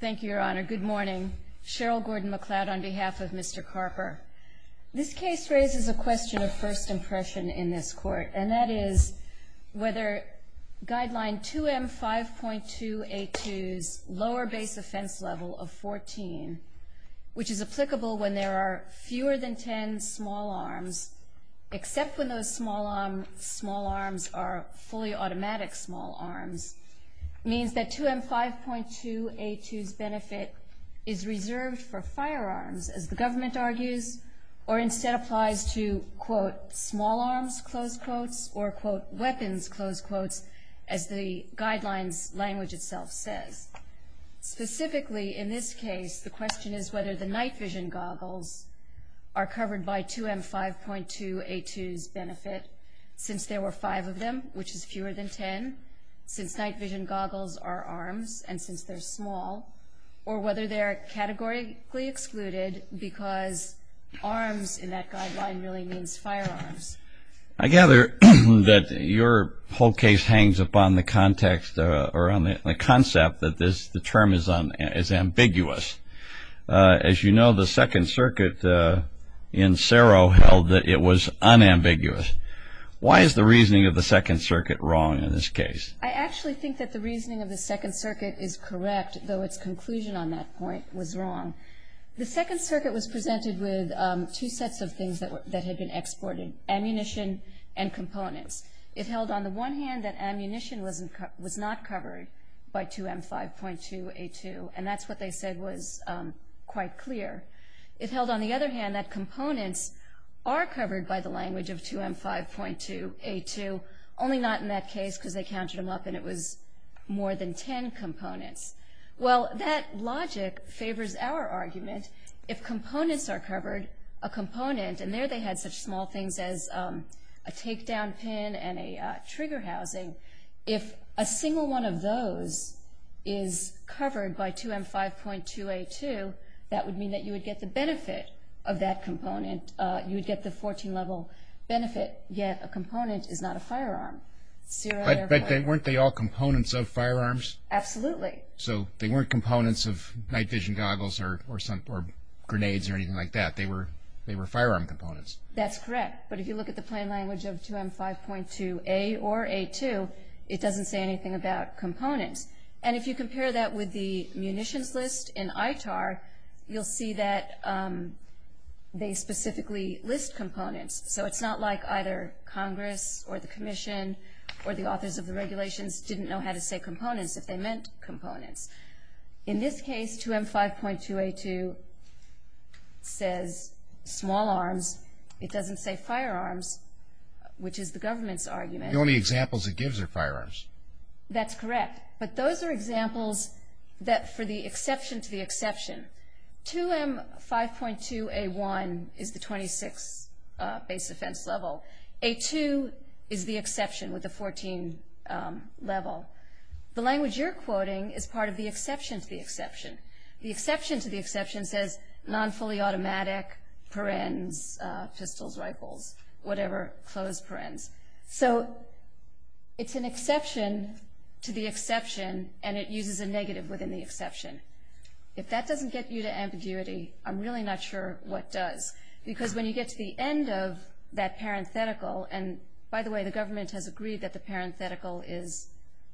Thank you, Your Honor. Good morning. Cheryl Gordon-McLeod on behalf of Mr. Carper. This case raises a question of first impression in this court, and that is whether guideline 2M5.2A2's lower base offense level of 14, which is applicable when there are fewer than 10 small arms, except when those small arms are fully automatic small arms, means that 2M5.2A2's benefit is reserved for firearms, as the government argues, or instead applies to, quote, small arms, close quotes, or, quote, weapons, close quotes, as the guidelines language itself says. Specifically in this case, the question is whether the night vision goggles are covered by 2M5.2A2's benefit, since there were five of them, which is fewer than 10, since night vision goggles are arms, and since they're small, or whether they're categorically excluded, because arms in that guideline really means firearms. I gather that your whole case hangs upon the context, or on the concept, that the term is ambiguous. As you know, the Second Circuit in Saro held that it was unambiguous. Why is the reasoning of the Second Circuit wrong in this case? I actually think that the reasoning of the Second Circuit is correct, though its conclusion on that point was wrong. The Second Circuit was presented with two sets of things that had been exported, ammunition and components. It held, on the one hand, that ammunition was not covered by 2M5.2A2, and that's what they said was quite clear. It held, on the other hand, that components are covered by the language of 2M5.2A2, only not in that case, because they counted them up, and it was more than 10 components. Well, that logic favors our argument. If components are covered, a component, and there they had such small things as a takedown pin and a trigger housing, if a single one of those is covered by 2M5.2A2, that would mean that you would get the benefit of that component. You would get the 14-level benefit, yet a component is not a firearm. But weren't they all components of firearms? Absolutely. So they weren't components of night vision goggles or grenades or anything like that. They were firearm components. That's correct, but if you look at the plain language of 2M5.2A or A2, it doesn't say anything about components. And if you compare that with the munitions list in ITAR, you'll see that they specifically list components. So it's not like either Congress or the Commission or the authors of the regulations didn't know how to say components if they meant components. In this case, 2M5.2A2 says small arms. It doesn't say firearms, which is the government's argument. The only examples it gives are firearms. That's correct, but those are examples for the exception to the exception. 2M5.2A1 is the 26 base offense level. A2 is the exception with the 14 level. The language you're quoting is part of the exception to the exception. The exception to the exception says non-fully automatic, perens, pistols, rifles, whatever, closed perens. So it's an exception to the exception, and it uses a negative within the exception. If that doesn't get you to ambiguity, I'm really not sure what does. Because when you get to the end of that parenthetical, and by the way, the government has agreed that the parenthetical is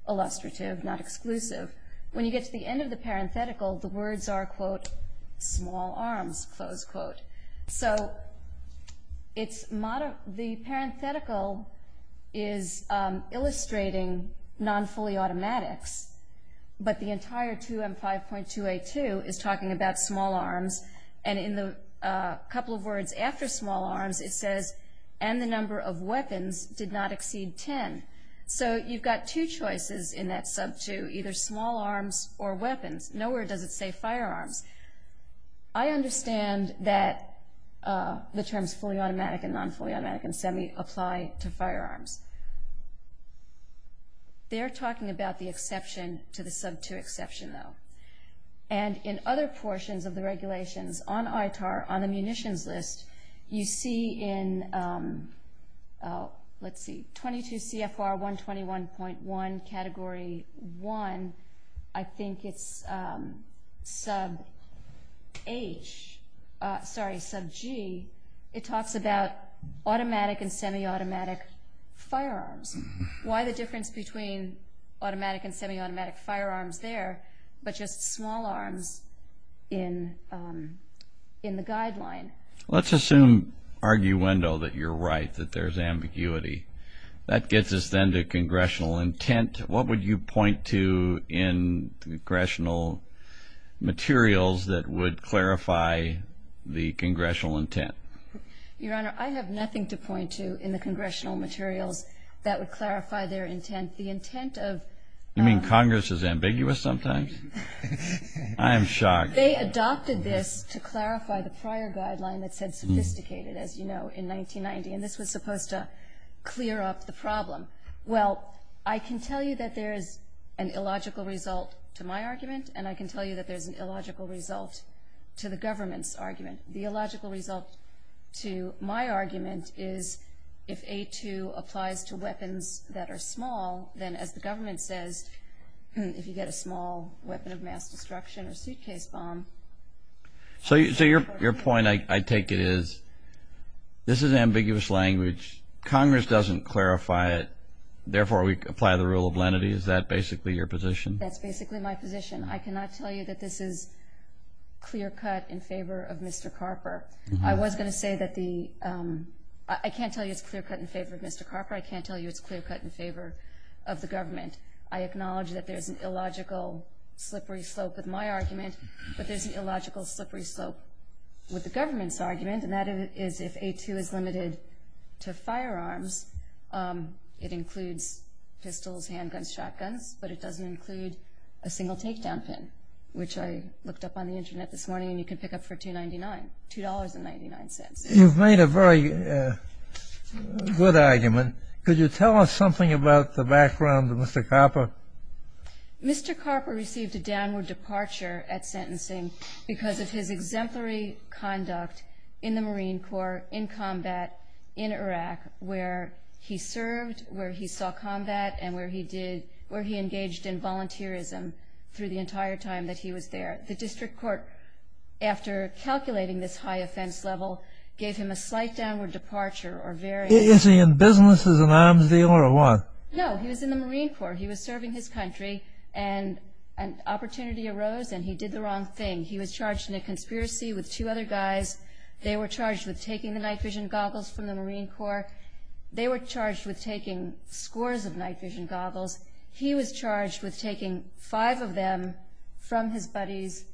illustrative, not exclusive. When you get to the end of the parenthetical, the words are, quote, small arms, close quote. So the parenthetical is illustrating non-fully automatics, but the entire 2M5.2A2 is talking about small arms, and in the couple of words after small arms, it says, and the number of weapons did not exceed 10. So you've got two choices in that sub-2, either small arms or weapons. Nowhere does it say firearms. I understand that the terms fully automatic and non-fully automatic and semi apply to firearms. They're talking about the exception to the sub-2 exception, though. And in other portions of the regulations on ITAR, on the munitions list, you see in 22 CFR 121.1, Category 1, I think it's sub-H, sorry, sub-G, it talks about automatic and semi-automatic firearms. Why the difference between automatic and semi-automatic firearms there, but just small arms in the guideline? Let's assume, arguendo, that you're right, that there's ambiguity. That gets us then to congressional intent. What would you point to in congressional materials that would clarify the congressional intent? Your Honor, I have nothing to point to in the congressional materials that would clarify their intent. The intent of the – You mean Congress is ambiguous sometimes? I am shocked. They adopted this to clarify the prior guideline that said sophisticated, as you know, in 1990, and this was supposed to clear up the problem. Well, I can tell you that there is an illogical result to my argument, and I can tell you that there's an illogical result to the government's argument. The illogical result to my argument is if A2 applies to weapons that are small, then as the government says, if you get a small weapon of mass destruction or suitcase bomb. So your point, I take it, is this is ambiguous language. Congress doesn't clarify it. Therefore, we apply the rule of lenity. Is that basically your position? That's basically my position. I cannot tell you that this is clear-cut in favor of Mr. Carper. I was going to say that the – I can't tell you it's clear-cut in favor of Mr. Carper. I can't tell you it's clear-cut in favor of the government. I acknowledge that there's an illogical slippery slope with my argument, but there's an illogical slippery slope with the government's argument, and that is if A2 is limited to firearms, it includes pistols, handguns, shotguns, but it doesn't include a single takedown pin, which I looked up on the Internet this morning, and you can pick up for $2.99, $2.99. You've made a very good argument. Could you tell us something about the background of Mr. Carper? Mr. Carper received a downward departure at sentencing because of his exemplary conduct in the Marine Corps, in combat, in Iraq, where he served, where he saw combat and where he did – where he engaged in volunteerism through the entire time that he was there. The district court, after calculating this high offense level, gave him a slight downward departure or very – Is he in business as an arms dealer or what? No, he was in the Marine Corps. He was serving his country, and an opportunity arose, and he did the wrong thing. He was charged in a conspiracy with two other guys. They were charged with taking the night-vision goggles from the Marine Corps. They were charged with taking scores of night-vision goggles. He was charged with taking five of them from his buddies,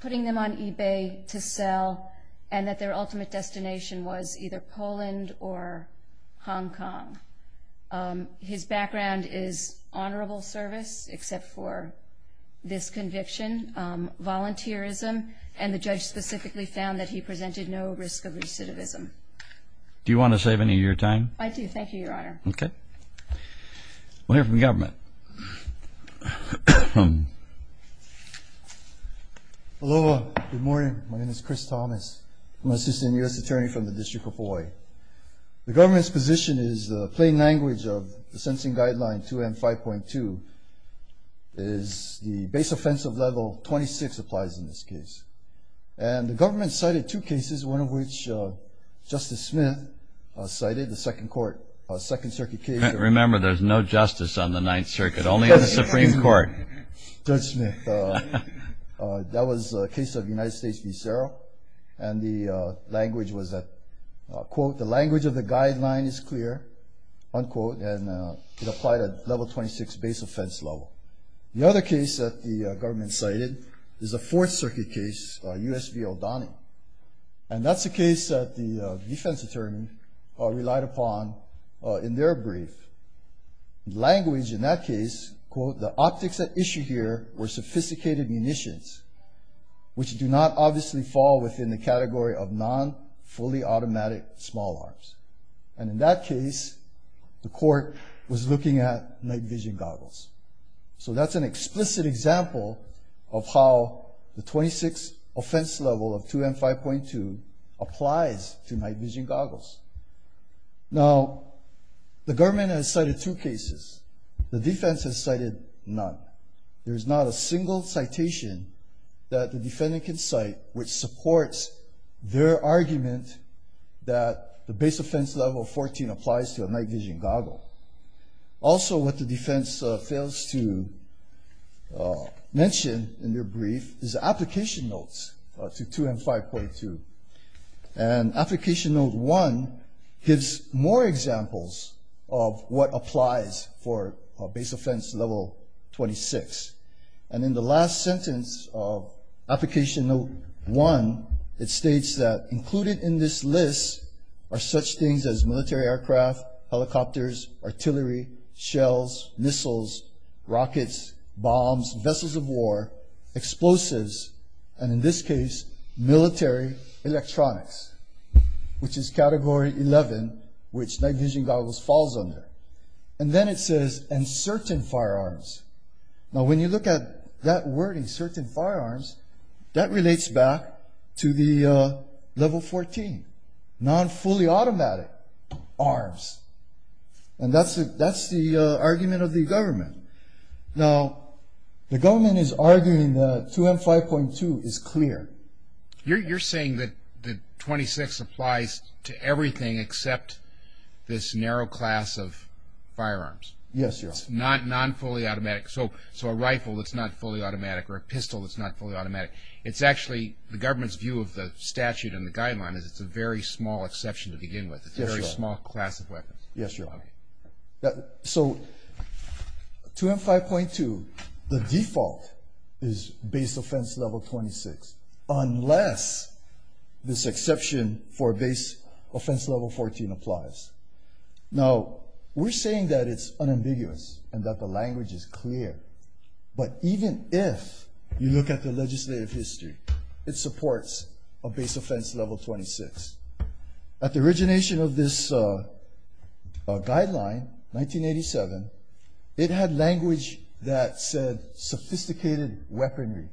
putting them on eBay to sell, and that their ultimate destination was either Poland or Hong Kong. His background is honorable service, except for this conviction, volunteerism, and the judge specifically found that he presented no risk of recidivism. Do you want to save any of your time? I do. Thank you, Your Honor. Okay. We'll hear from the government. Aloha. Good morning. My name is Chris Thomas. I'm an assistant U.S. attorney from the District of Hawaii. The government's position is the plain language of the Sensing Guideline 2M5.2 is the base offensive level 26 applies in this case. And the government cited two cases, one of which Justice Smith cited, the Second Circuit case. Remember, there's no justice on the Ninth Circuit, only on the Supreme Court. Judge Smith. That was the case of United States v. Saro, and the language was that, quote, the language of the guideline is clear, unquote, and it applied at level 26 base offense level. The other case that the government cited is a Fourth Circuit case, U.S. v. O'Donnell, and that's a case that the defense attorney relied upon in their brief. Language in that case, quote, the optics at issue here were sophisticated munitions, which do not obviously fall within the category of non-fully automatic small arms. And in that case, the court was looking at night vision goggles. So that's an explicit example of how the 26 offense level of 2M5.2 applies to night vision goggles. Now, the government has cited two cases. The defense has cited none. There's not a single citation that the defendant can cite which supports their argument that the base offense level 14 applies to a night vision goggle. Also, what the defense fails to mention in their brief is application notes to 2M5.2. And application note one gives more examples of what applies for base offense level 26. And in the last sentence of application note one, it states that included in this list are such things as military aircraft, helicopters, artillery, shells, missiles, rockets, bombs, vessels of war, explosives, and in this case, military electronics, which is category 11, which night vision goggles falls under. And then it says, and certain firearms. Now, when you look at that wording, certain firearms, that relates back to the level 14, non-fully automatic arms. And that's the argument of the government. Now, the government is arguing that 2M5.2 is clear. You're saying that 26 applies to everything except this narrow class of firearms. Yes, Your Honor. So, a rifle that's not fully automatic or a pistol that's not fully automatic, it's actually the government's view of the statute and the guideline is it's a very small exception to begin with. It's a very small class of weapons. Yes, Your Honor. So, 2M5.2, the default is base offense level 26, unless this exception for base offense level 14 applies. Now, we're saying that it's unambiguous and that the language is clear, but even if you look at the legislative history, it supports a base offense level 26. At the origination of this guideline, 1987, it had language that said sophisticated weaponry.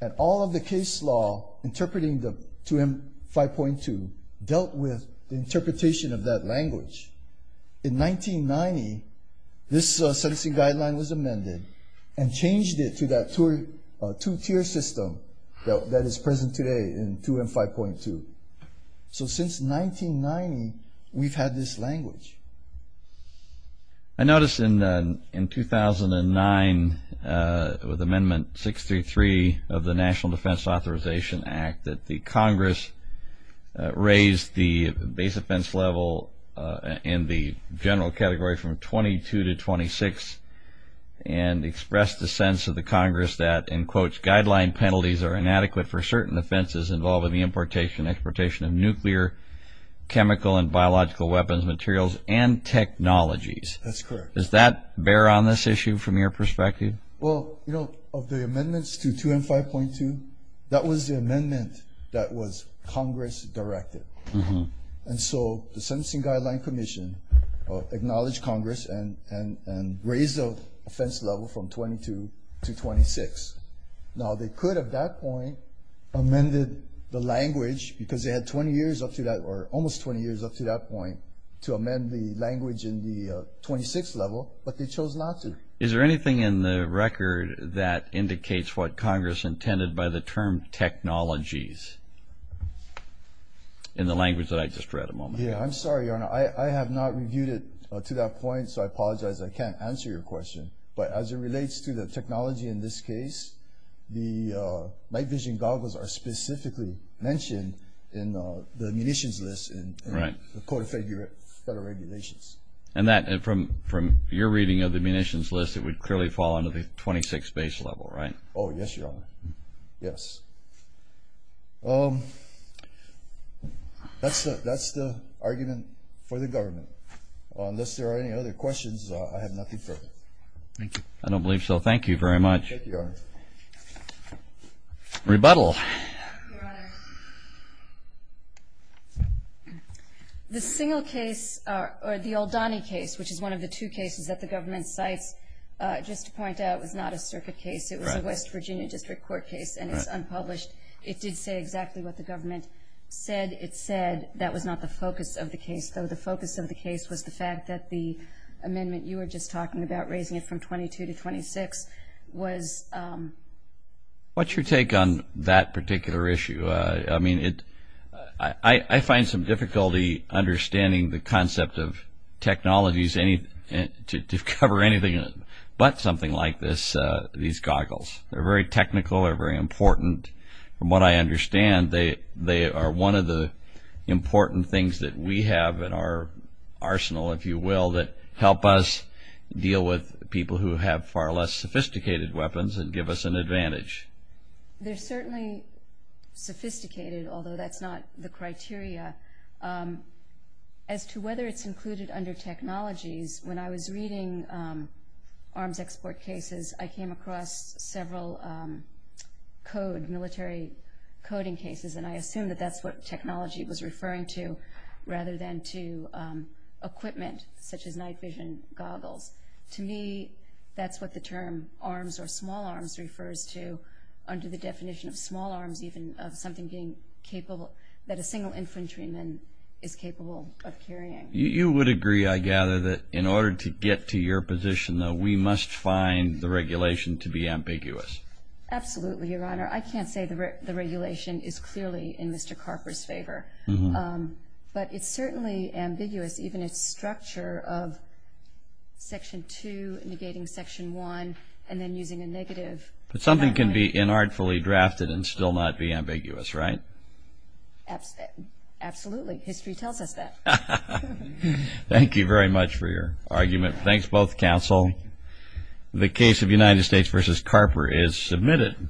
And all of the case law interpreting the 2M5.2 dealt with the interpretation of that language. In 1990, this sentencing guideline was amended and changed it to that two-tier system that is present today in 2M5.2. So, since 1990, we've had this language. I noticed in 2009 with Amendment 633 of the National Defense Authorization Act that the Congress raised the base offense level in the general category from 22 to 26 and expressed the sense of the Congress that, in quotes, guideline penalties are inadequate for certain offenses involving the importation and exportation of nuclear, chemical, and biological weapons materials and technologies. That's correct. Does that bear on this issue from your perspective? Well, you know, of the amendments to 2M5.2, that was the amendment that was Congress-directed. And so the Sentencing Guideline Commission acknowledged Congress and raised the offense level from 22 to 26. Now, they could, at that point, amended the language because they had 20 years up to that or almost 20 years up to that point to amend the language in the 26th level, but they chose not to. Is there anything in the record that indicates what Congress intended by the term technologies in the language that I just read a moment ago? Yeah, I'm sorry, Your Honor. I have not reviewed it to that point, so I apologize. I can't answer your question. But as it relates to the technology in this case, the night vision goggles are specifically mentioned in the munitions list in the Code of Federal Regulations. And from your reading of the munitions list, it would clearly fall under the 26th base level, right? Oh, yes, Your Honor, yes. That's the argument for the government. Unless there are any other questions, I have nothing further. Thank you. I don't believe so. Thank you very much. Thank you, Your Honor. Rebuttal. Your Honor. The single case or the Oldani case, which is one of the two cases that the government cites, just to point out, was not a circuit case. It was a West Virginia District Court case, and it's unpublished. It did say exactly what the government said. It said that was not the focus of the case, though the focus of the case was the fact that the amendment you were just talking about, raising it from 22 to 26, was. What's your take on that particular issue? I find some difficulty understanding the concept of technologies to cover anything but something like these goggles. They're very technical, they're very important. From what I understand, they are one of the important things that we have in our arsenal, if you will, that help us deal with people who have far less sophisticated weapons and give us an advantage. They're certainly sophisticated, although that's not the criteria. As to whether it's included under technologies, when I was reading arms export cases, I came across several military coding cases, and I assume that that's what technology was referring to, rather than to equipment, such as night vision goggles. To me, that's what the term arms or small arms refers to, under the definition of small arms even, of something being capable that a single infantryman is capable of carrying. You would agree, I gather, that in order to get to your position, though, we must find the regulation to be ambiguous. Absolutely, Your Honor. I can't say the regulation is clearly in Mr. Carper's favor, but it's certainly ambiguous, even its structure of Section 2 negating Section 1 and then using a negative. But something can be inartfully drafted and still not be ambiguous, right? Absolutely. History tells us that. Thank you very much for your argument. Thanks, both counsel. The case of United States v. Carper is submitted.